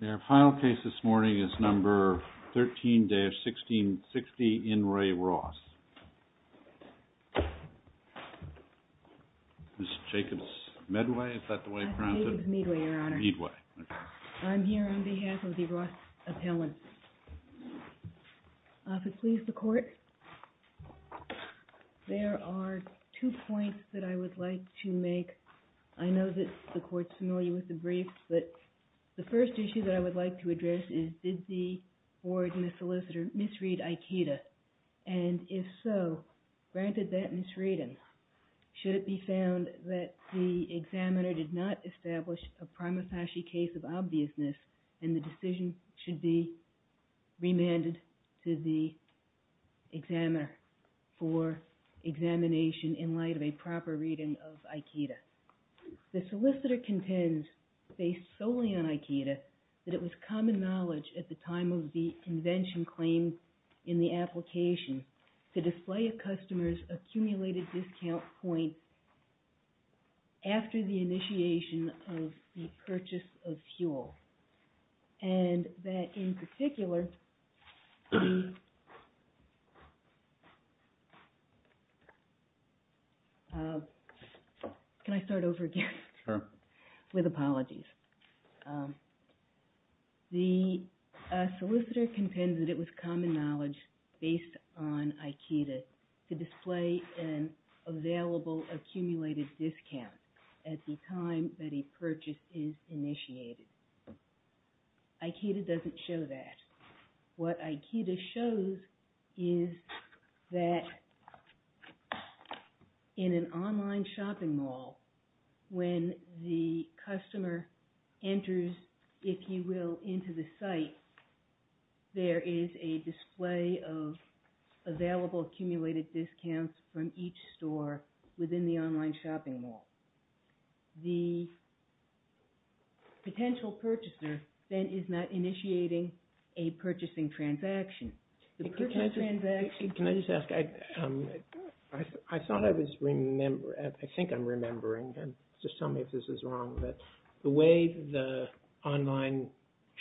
The final case this morning is number 13-1660, In Re Ross. Ms. Jacobs-Medway, is that the way it's pronounced? My name is Medway, Your Honor. Medway, okay. I'm here on behalf of the Ross Appellants. If it pleases the Court, there are two points that I would like to make. I know that the Court is familiar with the brief, but the first issue that I would like to address is, did the board misread Aikida? And if so, granted that misreading, should it be found that the examiner did not establish a prima facie case of obviousness, then the decision should be remanded to the examiner for examination in light of a proper reading of Aikida. The solicitor contends, based solely on Aikida, that it was common knowledge at the time of the invention claim in the application to display a customer's accumulated discount points after the initiation of the purchase of fuel. And that, in particular, the... Can I start over again? Sure. With apologies. The solicitor contends that it was common knowledge, based on Aikida, to display an available accumulated discount at the time that a purchase is initiated. Aikida doesn't show that. What Aikida shows is that in an online shopping mall, when the customer enters, if you will, into the site, there is a display of available accumulated discounts from each store within the online shopping mall. The potential purchaser then is not initiating a purchasing transaction. The purchasing transaction... Can I just ask? I thought I was remembering... I think I'm remembering. Just tell me if this is wrong. The way the online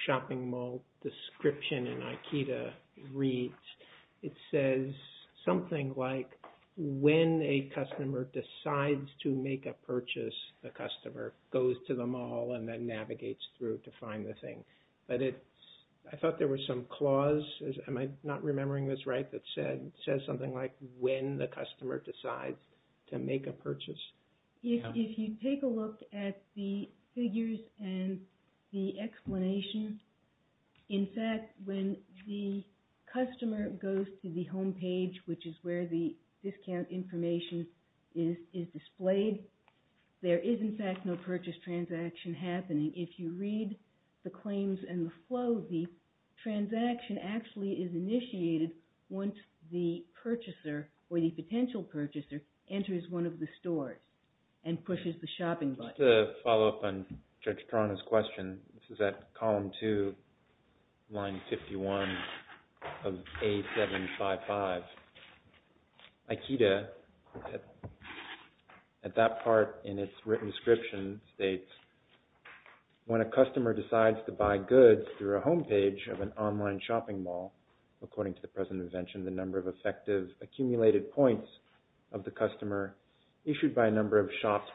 shopping mall description in Aikida reads, it says something like, when a customer decides to make a purchase, the customer goes to the mall and then navigates through to find the thing. But it's... I thought there was some clause. Am I not remembering this right? That says something like, when the customer decides to make a purchase? If you take a look at the figures and the explanation, in fact, when the customer goes to the homepage, which is where the discount information is displayed, there is, in fact, no purchase transaction happening. If you read the claims and the flow, the transaction actually is initiated once the purchaser, or the potential purchaser, enters one of the stores and pushes the shopping button. Just to follow up on Judge Tron's question, this is at column two, line 51 of A755. Aikida, at that part in its written description, states, when a customer decides to buy goods through a homepage of an online shopping mall, according to the present invention, the number of effective accumulated points of the customer issued by a number of shops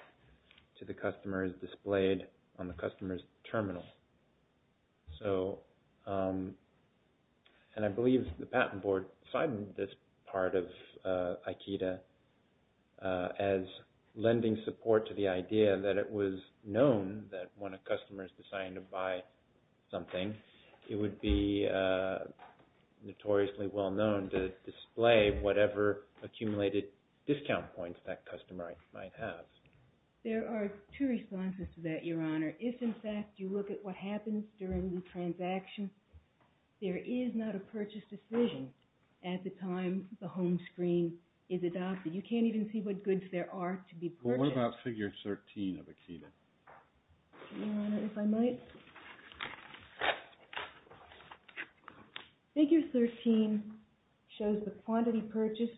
to the customer is displayed on the customer's terminal. And I believe the patent board signed this part of Aikida as lending support to the idea that it was known that when a customer is deciding to buy something, it would be notoriously well-known to display whatever accumulated discount points that customer might have. There are two responses to that, Your Honor. If, in fact, you look at what happens during the transaction, there is not a purchase decision at the time the home screen is adopted. You can't even see what goods there are to be purchased. Well, what about figure 13 of Aikida? Your Honor, if I might. Figure 13 shows the quantity purchased,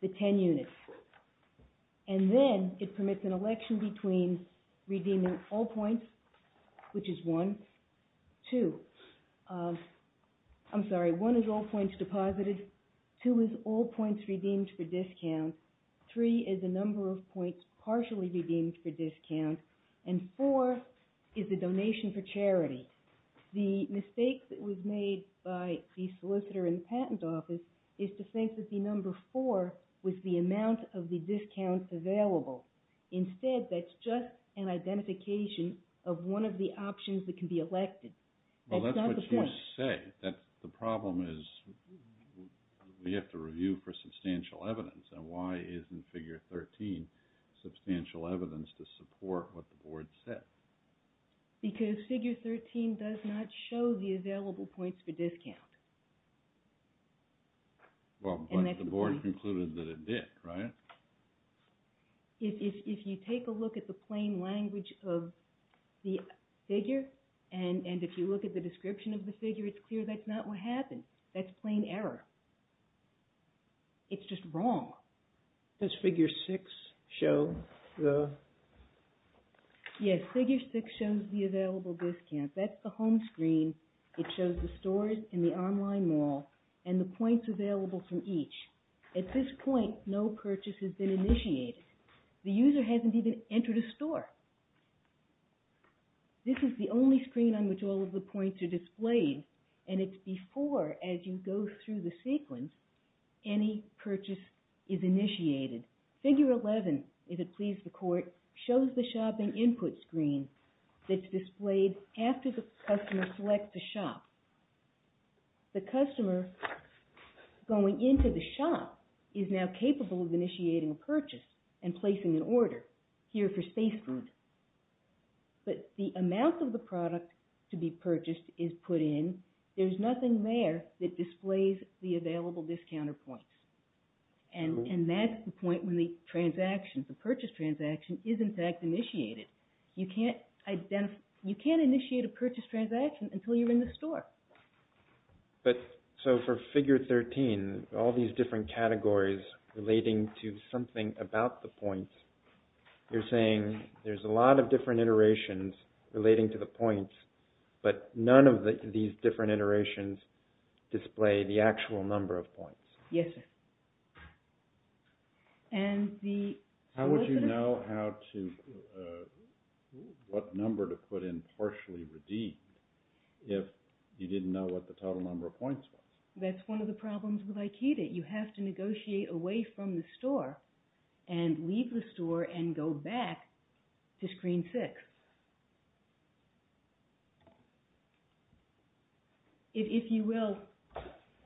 the 10 units, and then it permits an election between redeeming all points, which is one, two, I'm sorry, one is all points deposited, two is all points redeemed for discounts, three is the number of points partially redeemed for discounts, and four is the donation for charity. The mistake that was made by the solicitor in the patent office is to think that the number four was the amount of the discounts available. Instead, that's just an identification of one of the options that can be elected. That's not the point. Well, that's what you say, that the problem is we have to review for substantial evidence, and why isn't figure 13 substantial evidence to support what the Board said? Because figure 13 does not show the available points for discount. Well, but the Board concluded that it did, right? If you take a look at the plain language of the figure, and if you look at the description of the figure, it's clear that's not what happened. That's plain error. It's just wrong. Does figure 6 show the... Yes, figure 6 shows the available discounts. That's the home screen. It shows the stores and the online mall, and the points available from each. At this point, no purchase has been initiated. The user hasn't even entered a store. This is the only screen on which all of the points are displayed, and it's before, as you go through the sequence, any purchase is initiated. Figure 11, if it pleases the Court, shows the shopping input screen that's displayed after the customer selects a shop. The customer going into the shop is now capable of initiating a purchase and placing an order here for space food, but the amount of the product to be purchased is put in. There's nothing there that displays the available discounter points, and that's the point when the transaction, the purchase transaction, is in fact initiated. You can't initiate a purchase transaction until you're in the store. But, so for figure 13, all these different categories relating to something about the points, you're saying there's a lot of different iterations relating to the points, but none of these different iterations display the actual number of points. Yes, sir. How would you know what number to put in partially redeemed if you didn't know what the total number of points was? That's one of the problems with IKEDA. You have to negotiate away from the store and leave the store and go back to screen 6. If you will,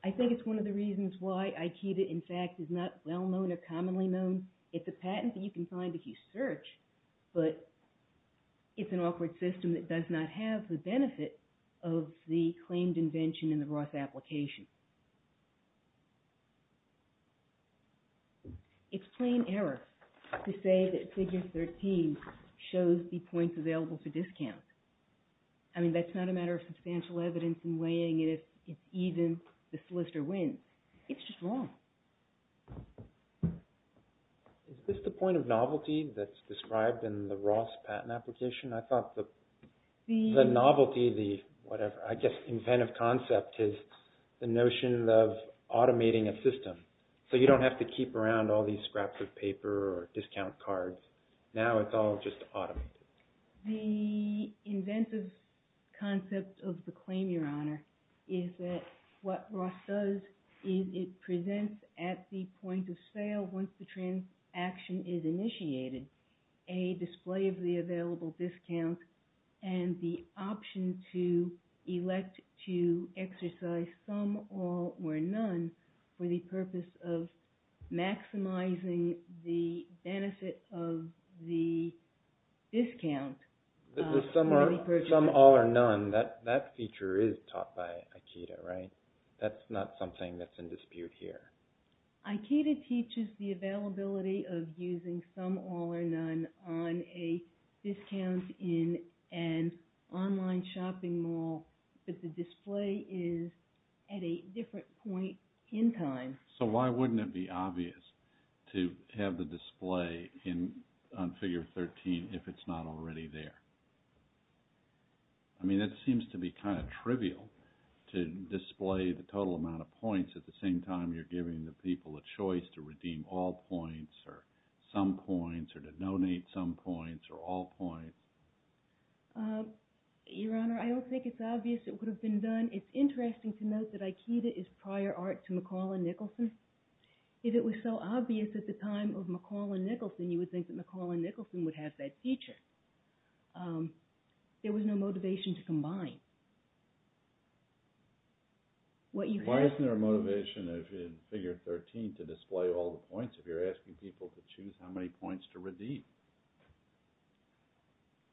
I think it's one of the reasons why IKEDA, in fact, is not well-known or commonly known. It's a patent that you can find if you search, but it's an awkward system that does not have the benefit of the claimed invention in the Ross application. It's plain error to say that figure 13 shows the points available for discount. I mean, that's not a matter of substantial evidence in weighing it if even the solicitor wins. It's just wrong. Is this the point of novelty that's described in the Ross patent application? I thought the novelty, the whatever, I guess inventive concept is the notion of automating a system so you don't have to keep around all these scraps of paper or discount cards. Now it's all just automated. The inventive concept of the claim, Your Honor, is that what Ross does is it presents at the discount and the option to elect to exercise some, all, or none for the purpose of maximizing the benefit of the discount. The some, all, or none, that feature is taught by IKEDA, right? That's not something that's in dispute here. IKEDA teaches the availability of using some, all, or none on a discount in an online shopping mall, but the display is at a different point in time. So why wouldn't it be obvious to have the display on figure 13 if it's not already there? I mean, it seems to be kind of trivial to display the total amount of points at the same time you're giving the people a choice to redeem all points or some points or to donate some points or all points. Your Honor, I don't think it's obvious it would have been done. It's interesting to note that IKEDA is prior art to McCall and Nicholson. If it was so obvious at the time of McCall and Nicholson, you would think that McCall and Nicholson would have that feature. There was no motivation to combine. Why isn't there a motivation in figure 13 to display all the points if you're asking people to choose how many points to redeem?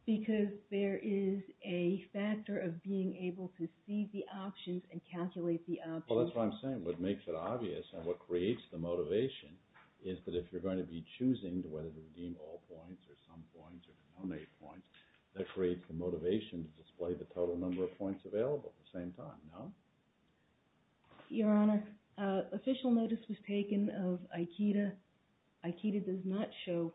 Because there is a factor of being able to see the options and calculate the options. Well, that's what I'm saying. What makes it obvious and what creates the motivation is that if you're going to be choosing whether to redeem all points or some points or to donate points, that creates the motivation to display the total number of points available at the same time, no? Your Honor, official notice was taken of IKEDA. IKEDA does not show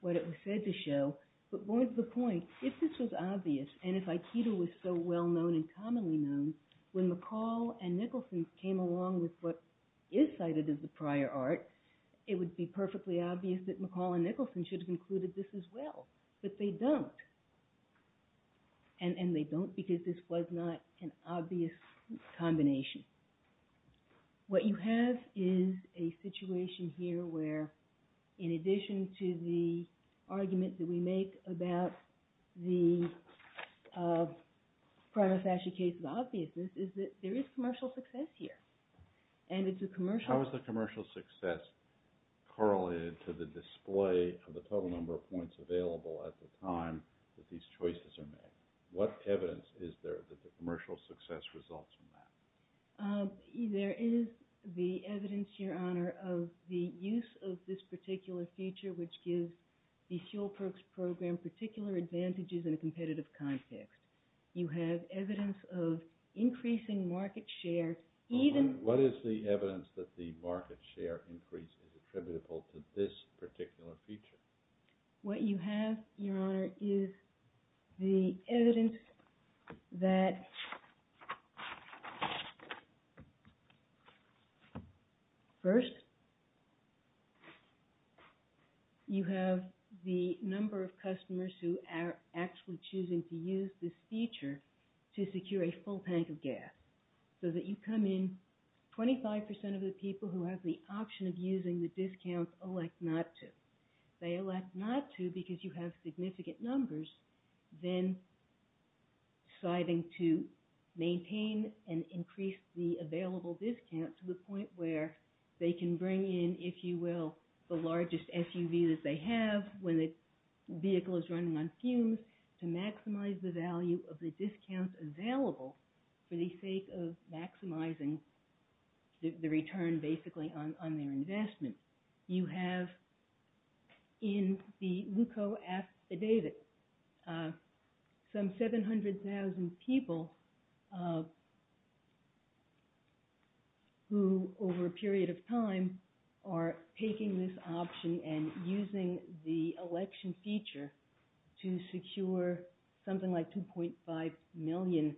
what it was said to show. But more to the point, if this was obvious and if IKEDA was so well known and commonly known, when McCall and Nicholson came along with what is cited as a prior art, it would be perfectly obvious that McCall and Nicholson should have included this as well. But they don't. And they don't because this was not an obvious combination. What you have is a situation here where, in addition to the argument that we make about the prima facie case of obviousness, is that there is commercial success here. And it's a commercial... at the time that these choices are made. What evidence is there that the commercial success results from that? There is the evidence, Your Honor, of the use of this particular feature which gives the fuel perks program particular advantages in a competitive context. You have evidence of increasing market share even... What is the evidence that the market share increase is attributable to this particular feature? What you have, Your Honor, is the evidence that... First, you have the number of customers who are actually choosing to use this feature to secure a full tank of gas. So that you come in, 25% of the people who have the option of using the discount elect not to. They elect not to because you have significant numbers then deciding to maintain and increase the available discount to the point where they can bring in, if you will, the largest SUV that they have when the vehicle is running on fumes to maximize the value of the discounts available for the sake of maximizing the return, basically, on their investment. You have, in the Leuco Ask David, some 700,000 people who, over a period of time, are taking this option and using the election feature to secure something like 2.5 million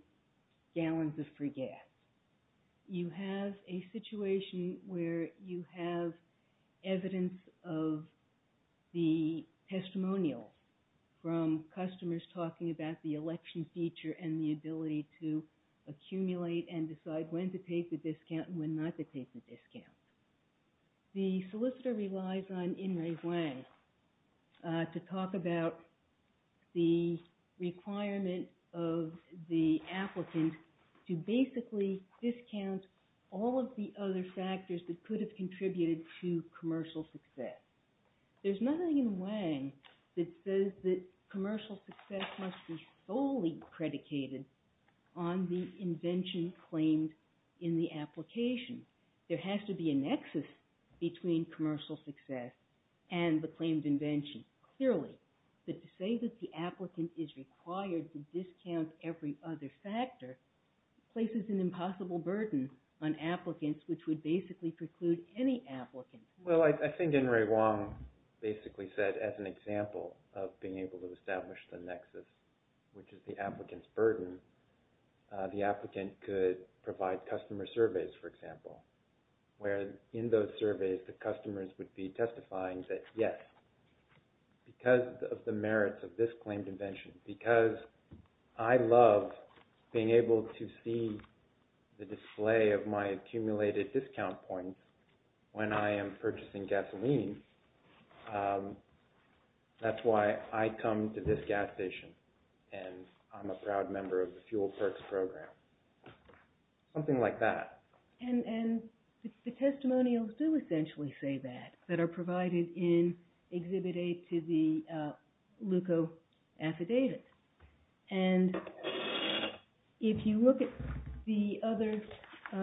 gallons of free gas. You have a situation where you have evidence of the testimonial from customers talking about the election feature and the ability to accumulate and decide when to take the discount and when not to take the discount. The solicitor relies on In Re Wang to talk about the requirement of the applicant to basically discount all of the other factors that could have contributed to commercial success. There's nothing in Wang that says that commercial success must be solely predicated on the invention and not be claimed in the application. There has to be a nexus between commercial success and the claimed invention, clearly. But to say that the applicant is required to discount every other factor places an impossible burden on applicants, which would basically preclude any applicant. Well, I think In Re Wang basically said, as an example of being able to establish the nexus, which is the applicant's burden, the applicant could provide customer surveys, for example, where in those surveys the customers would be testifying that, yes, because of the merits of this claimed invention, because I love being able to see the display of my accumulated discount points when I am purchasing gasoline, that's why I come to this gas station and I'm a proud member of the Fuel Perks Program. Something like that. And the testimonials do essentially say that, that are provided in Exhibit A to the LUCO affidavit. And if you look at the other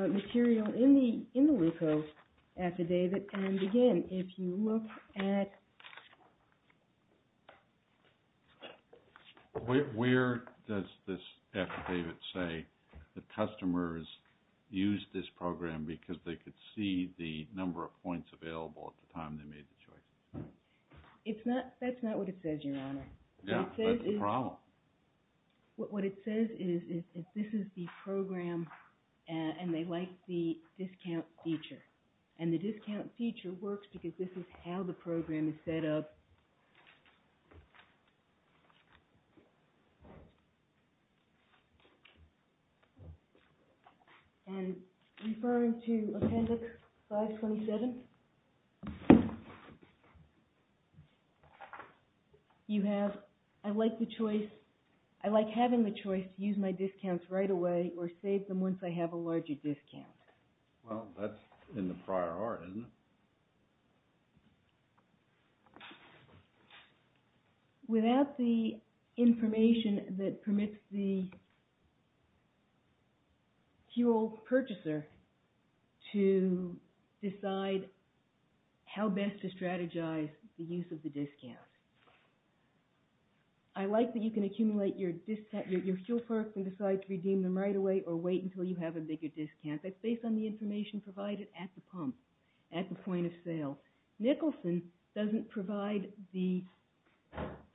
material in the LUCO affidavit, and again, if you look at – Where does this affidavit say the customers used this program because they could see the number of points available at the time they made the choice? That's not what it says, Your Honor. Yeah, that's the problem. What it says is this is the program and they like the discount feature. And the discount feature works because this is how the program is set up. And referring to Appendix 527, you have, I like the choice – I like having the choice to use my discounts right away or save them once I have a larger discount. Well, that's in the prior art, isn't it? Without the information that permits the fuel purchaser to decide how best to strategize the use of the discount. I like that you can accumulate your discount – your fuel perks and decide to redeem them right away or wait until you have a bigger discount. That's based on the information provided at the pump, at the point of sale. Nicholson doesn't provide the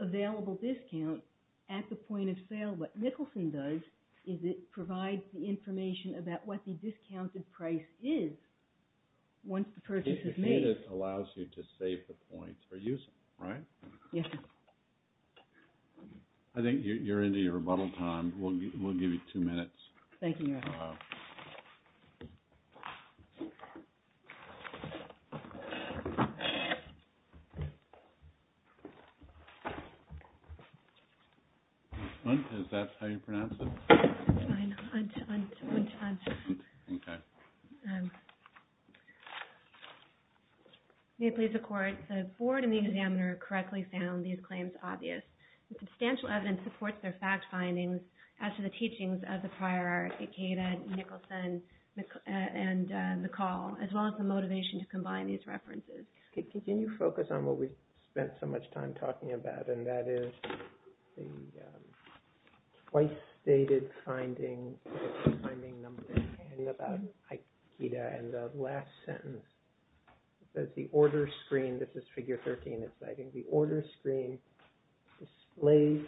available discount at the point of sale. What Nicholson does is it provides the information about what the discounted price is once the purchase is made. The affidavit allows you to save the points for use, right? Yes. I think you're into your rebuttal time. Thank you, Your Honor. Thank you. Is that how you pronounce it? It's fine. Unt, unt, unt, unt. Okay. May it please the Court, the Board and the examiner correctly found these claims obvious. The substantial evidence supports their fact findings as to the teachings of the prior art, Aikida, Nicholson, and McCall, as well as the motivation to combine these references. Can you focus on what we've spent so much time talking about? And that is the twice-dated finding, the timing number, and about Aikida. And the last sentence says, the order screen – this is figure 13. The order screen displays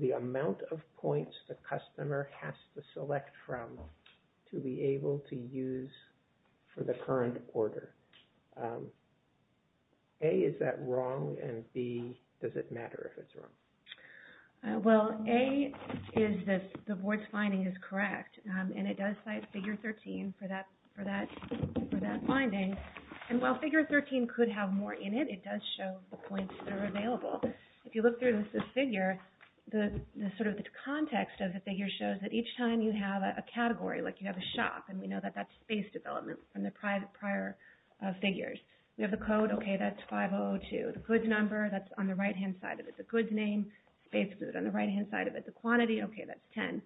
the amount of points the customer has to select from to be able to use for the current order. A, is that wrong? And B, does it matter if it's wrong? Well, A is that the Board's finding is correct, and it does cite figure 13 for that finding. And while figure 13 could have more in it, it does show the points that are available. If you look through this figure, sort of the context of the figure shows that each time you have a category, like you have a shop, and we know that that's space development from the prior figures. We have the code, okay, that's 5002. The goods number, that's on the right-hand side of it. The goods name, space goods on the right-hand side of it. The quantity, okay, that's 10.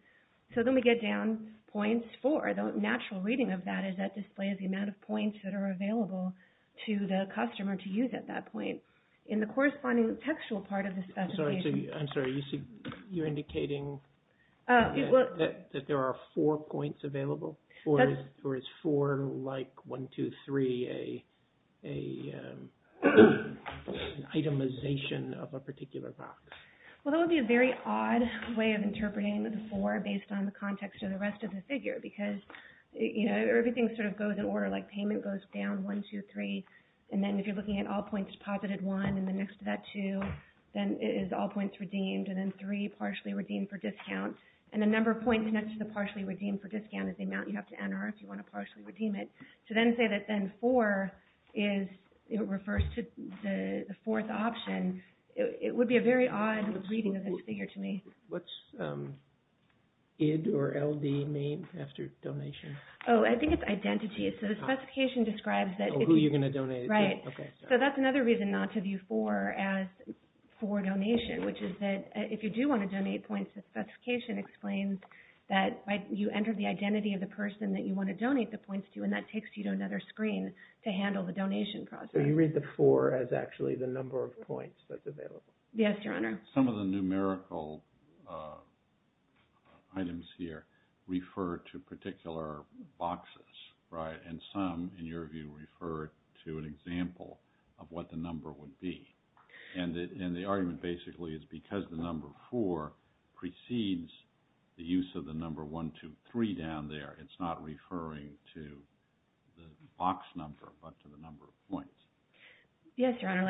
So then we get down points for. The natural reading of that is that displays the amount of points that are available to the customer to use at that point. In the corresponding textual part of the specification – I'm sorry. You're indicating that there are four points available? Or is four, like 1, 2, 3, an itemization of a particular box? Well, that would be a very odd way of interpreting the four based on the context of the rest of the figure because, you know, everything sort of goes in order. Like payment goes down 1, 2, 3. And then if you're looking at all points deposited 1 and then next to that 2, then it is all points redeemed. And then 3, partially redeemed for discount. And the number of points next to the partially redeemed for discount is the amount you have to enter if you want to partially redeem it. To then say that then 4 refers to the fourth option, it would be a very odd reading of this figure to me. What's ID or LD mean after donation? Oh, I think it's identity. So the specification describes that – Oh, who you're going to donate it to. Right. So that's another reason not to view 4 as for donation, which is that if you do want to donate points, the specification explains that you enter the identity of the person that you want to donate the points to, and that takes you to another screen to handle the donation process. So you read the 4 as actually the number of points that's available. Yes, Your Honor. Some of the numerical items here refer to particular boxes, right? And some, in your view, refer to an example of what the number would be. And the argument basically is because the number 4 precedes the use of the number 1, 2, 3 down there, it's not referring to the box number but to the number of points. Yes, Your Honor.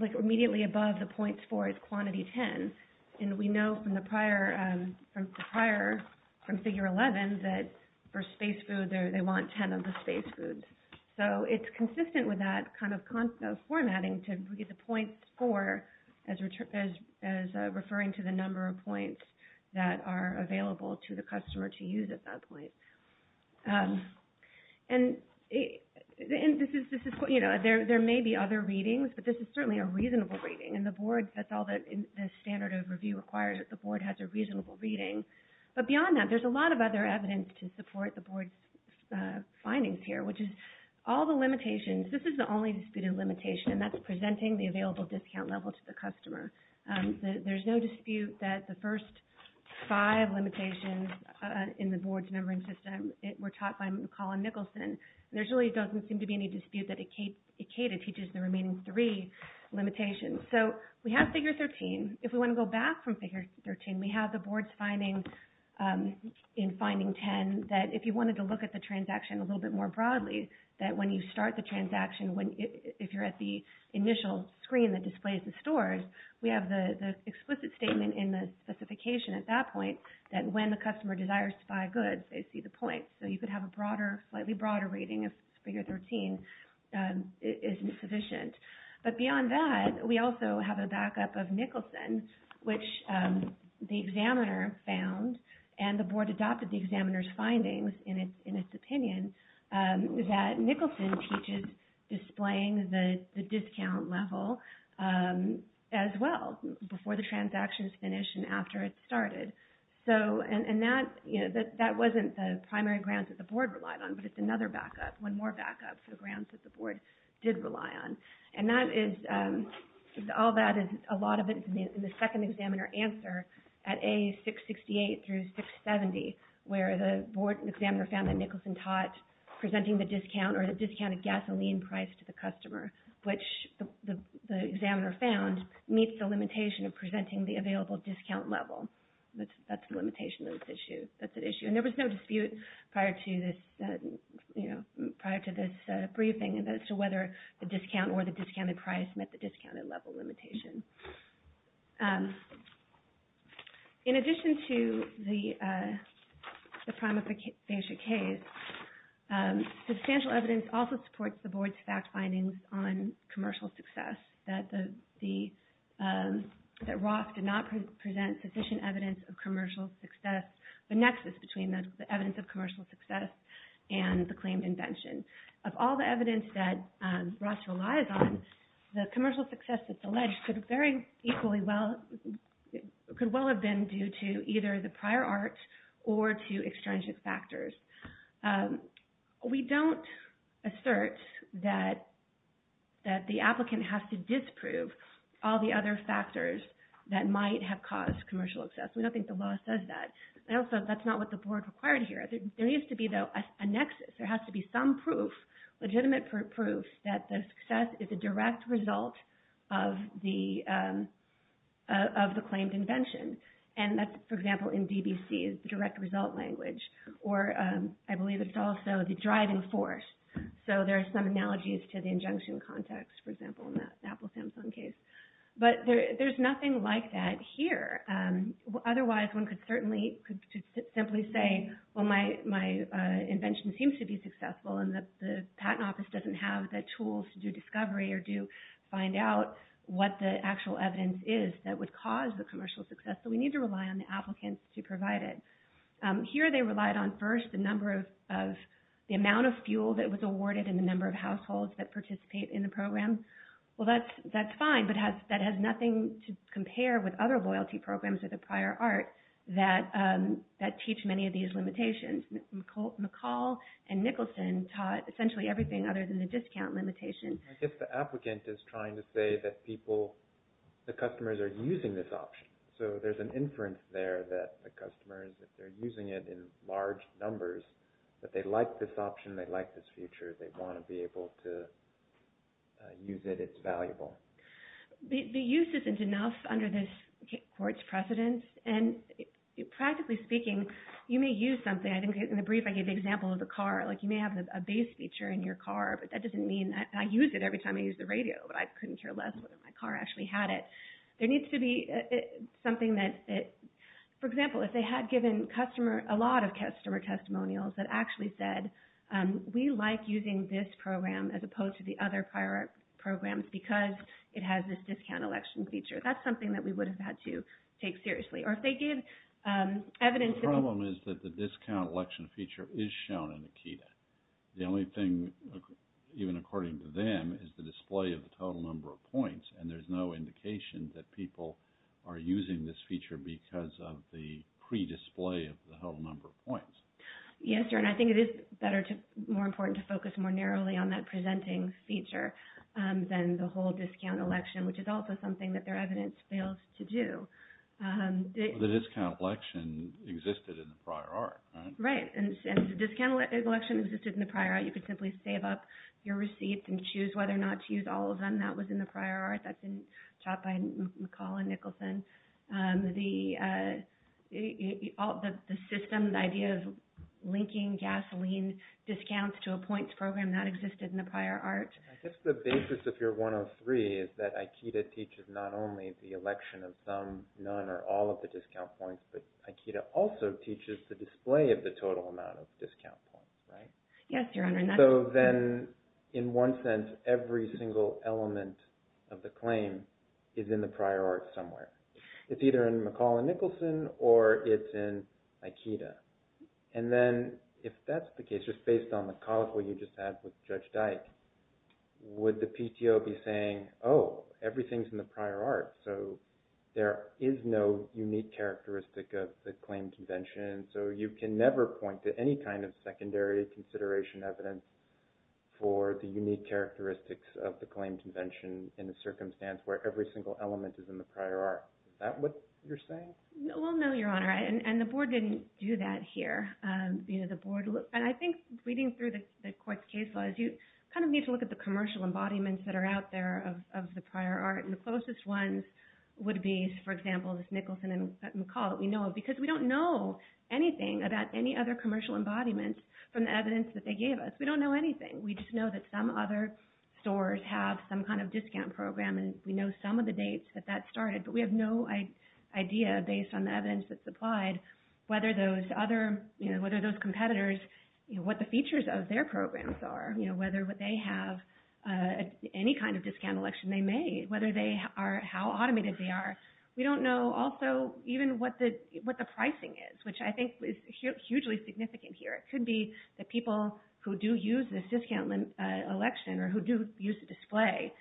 Like immediately above the points 4 is quantity 10, and we know from the prior – from figure 11 that for space food they want 10 of the space foods. So it's consistent with that kind of formatting to read the points 4 as referring to the number of points that are available to the customer to use at that point. And this is, you know, there may be other readings, but this is certainly a reasonable reading, and the Board, that's all that the standard of review requires, that the Board has a reasonable reading. But beyond that, there's a lot of other evidence to support the Board's findings here, which is all the limitations. This is the only disputed limitation, and that's presenting the available discount level to the customer. There's no dispute that the first five limitations in the Board's numbering system were taught by Colin Nicholson. There really doesn't seem to be any dispute that ACADA teaches the remaining three limitations. So we have figure 13. If we want to go back from figure 13, we have the Board's finding in finding 10 that if you wanted to look at the transaction a little bit more broadly, that when you start the transaction, if you're at the initial screen that displays the stores, we have the explicit statement in the specification at that point that when the customer desires to buy goods, they see the points. So you could have a slightly broader rating if figure 13 isn't sufficient. But beyond that, we also have a backup of Nicholson, which the examiner found, and the Board adopted the examiner's findings in its opinion, that Nicholson teaches displaying the discount level as well before the transaction is finished and after it started. And that wasn't the primary ground that the Board relied on, but it's another backup, one more backup, for the grounds that the Board did rely on. And all that is a lot of it in the second examiner answer at A668 through 670, where the Board examiner found that Nicholson taught presenting the discount or the discounted gasoline price to the customer, which the examiner found meets the limitation of presenting the available discount level. That's the limitation of this issue. And there was no dispute prior to this briefing as to whether the discount or the discounted price met the discounted level limitation. In addition to the prima facie case, substantial evidence also supports the Board's fact findings on commercial success, that Roth did not present sufficient evidence of commercial success, the nexus between the evidence of commercial success and the claimed invention. Of all the evidence that Roth relies on, the commercial success that's alleged could very equally well, could well have been due to either the prior art or to extrinsic factors. We don't assert that the applicant has to disprove all the other factors that might have caused commercial success. We don't think the law says that. And also, that's not what the Board required here. There needs to be, though, a nexus. There has to be some proof, legitimate proof, that the success is a direct result of the claimed invention. And that's, for example, in DBC, the direct result language. Or I believe it's also the driving force. So there are some analogies to the injunction context, for example, in the Apple-Samsung case. But there's nothing like that here. Otherwise, one could certainly simply say, well, my invention seems to be successful, and the Patent Office doesn't have the tools to do discovery or to find out what the actual evidence is that would cause the commercial success. So we need to rely on the applicants to provide it. Here they relied on, first, the number of, the amount of fuel that was awarded and the number of households that participate in the program. Well, that's fine, but that has nothing to compare with other loyalty programs or the prior art that teach many of these limitations. McCall and Nicholson taught essentially everything other than the discount limitation. I guess the applicant is trying to say that people, the customers, are using this option. So there's an inference there that the customers, if they're using it in large numbers, that they like this option, they like this feature, they want to be able to use it, it's valuable. The use isn't enough under this court's precedent. And practically speaking, you may use something. I think in the brief I gave the example of the car. Like you may have a bass feature in your car, but that doesn't mean that, and I use it every time I use the radio, but I couldn't care less whether my car actually had it. There needs to be something that, for example, if they had given customer, a lot of customer testimonials that actually said, we like using this program as opposed to the other prior art programs because it has this discount election feature. That's something that we would have had to take seriously. The problem is that the discount election feature is shown in the QEDA. The only thing, even according to them, is the display of the total number of points, and there's no indication that people are using this feature because of the pre-display of the whole number of points. Yes, sir, and I think it is more important to focus more narrowly on that presenting feature than the whole discount election, which is also something that their evidence fails to do. The discount election existed in the prior art, right? Right, and the discount election existed in the prior art. You could simply save up your receipts and choose whether or not to use all of them. That was in the prior art. That's been taught by McCall and Nicholson. The system, the idea of linking gasoline discounts to a points program, that existed in the prior art. I guess the basis of your 103 is that IKEDA teaches not only the election of some, none, or all of the discount points, but IKEDA also teaches the display of the total amount of discount points, right? Yes, Your Honor, and that's true. So then, in one sense, every single element of the claim is in the prior art somewhere. It's either in McCall and Nicholson or it's in IKEDA. And then, if that's the case, just based on the colloquy you just had with Judge Dyke, would the PTO be saying, oh, everything's in the prior art, so there is no unique characteristic of the claim convention, so you can never point to any kind of secondary consideration evidence for the unique characteristics of the claim convention in a circumstance where every single element is in the prior art. Is that what you're saying? Well, no, Your Honor, and the board didn't do that here. And I think reading through the court's case laws, you kind of need to look at the commercial embodiments that are out there of the prior art, and the closest ones would be, for example, this Nicholson and McCall that we know of, because we don't know anything about any other commercial embodiment from the evidence that they gave us. We don't know anything. We just know that some other stores have some kind of discount program, and we know some of the dates that that started, but we have no idea, based on the evidence that's applied, whether those competitors, what the features of their programs are, whether they have any kind of discount election they made, how automated they are. We don't know, also, even what the pricing is, which I think is hugely significant here. It could be that people who do use this discount election or who do use the display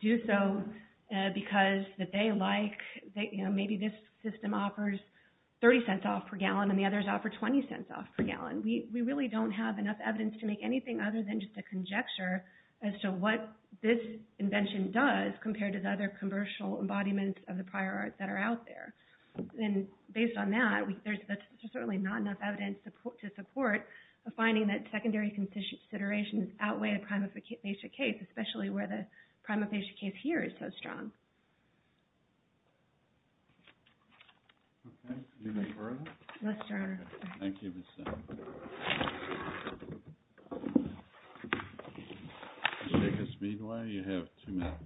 do so because they like, maybe this system offers 30 cents off per gallon and the others offer 20 cents off per gallon. We really don't have enough evidence to make anything other than just a conjecture as to what this invention does compared to the other commercial embodiments of the prior art that are out there. And based on that, there's certainly not enough evidence to support a finding that secondary considerations outweigh a prima facie case, especially where the prima facie case here is so strong. Okay. Do you need further? Yes, Your Honor. Thank you, Ms. Simons. Ms. Nicholson, meanwhile, you have two minutes.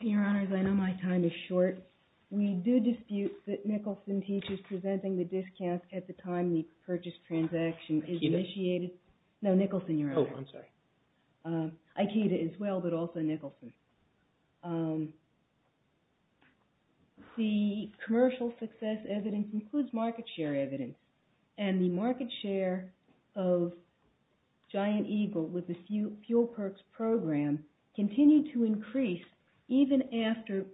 Your Honors, I know my time is short. We do dispute that Nicholson teaches presenting the discounts at the time the purchase transaction is initiated. No, Nicholson, Your Honor. Oh, I'm sorry. Ikea as well, but also Nicholson. The commercial success evidence includes market share evidence, and the market share of Giant Eagle with the Fuel Perks program continued to increase even after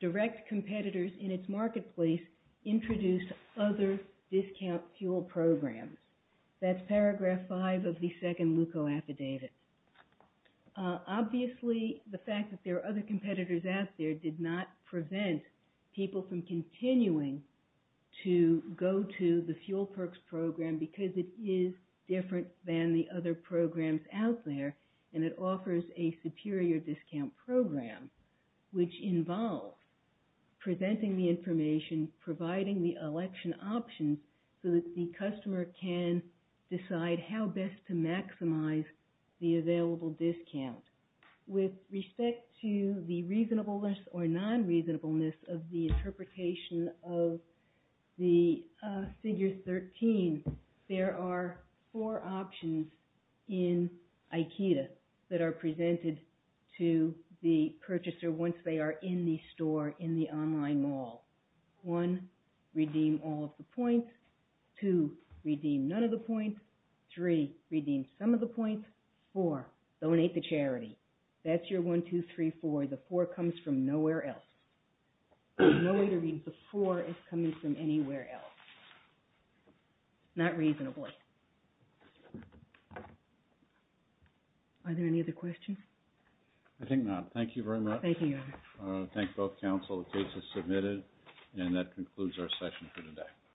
direct competitors in its marketplace introduced other discount fuel programs. That's paragraph five of the second LUCO affidavit. Obviously, the fact that there are other competitors out there did not prevent people from continuing to go to the Fuel Perks program because it is different than the other programs out there, and it offers a superior discount program, which involves presenting the information, providing the election options so that the customer can decide how best to maximize the available discount. With respect to the reasonableness or non-reasonableness of the interpretation of the figure 13, there are four options in Ikea that are in the store in the online mall. One, redeem all of the points. Two, redeem none of the points. Three, redeem some of the points. Four, donate to charity. That's your one, two, three, four. The four comes from nowhere else. There's no way to read the four as coming from anywhere else. Not reasonable. Are there any other questions? I think not. Thank you very much. Thank you. I thank both counsel. The case is submitted, and that concludes our session for today.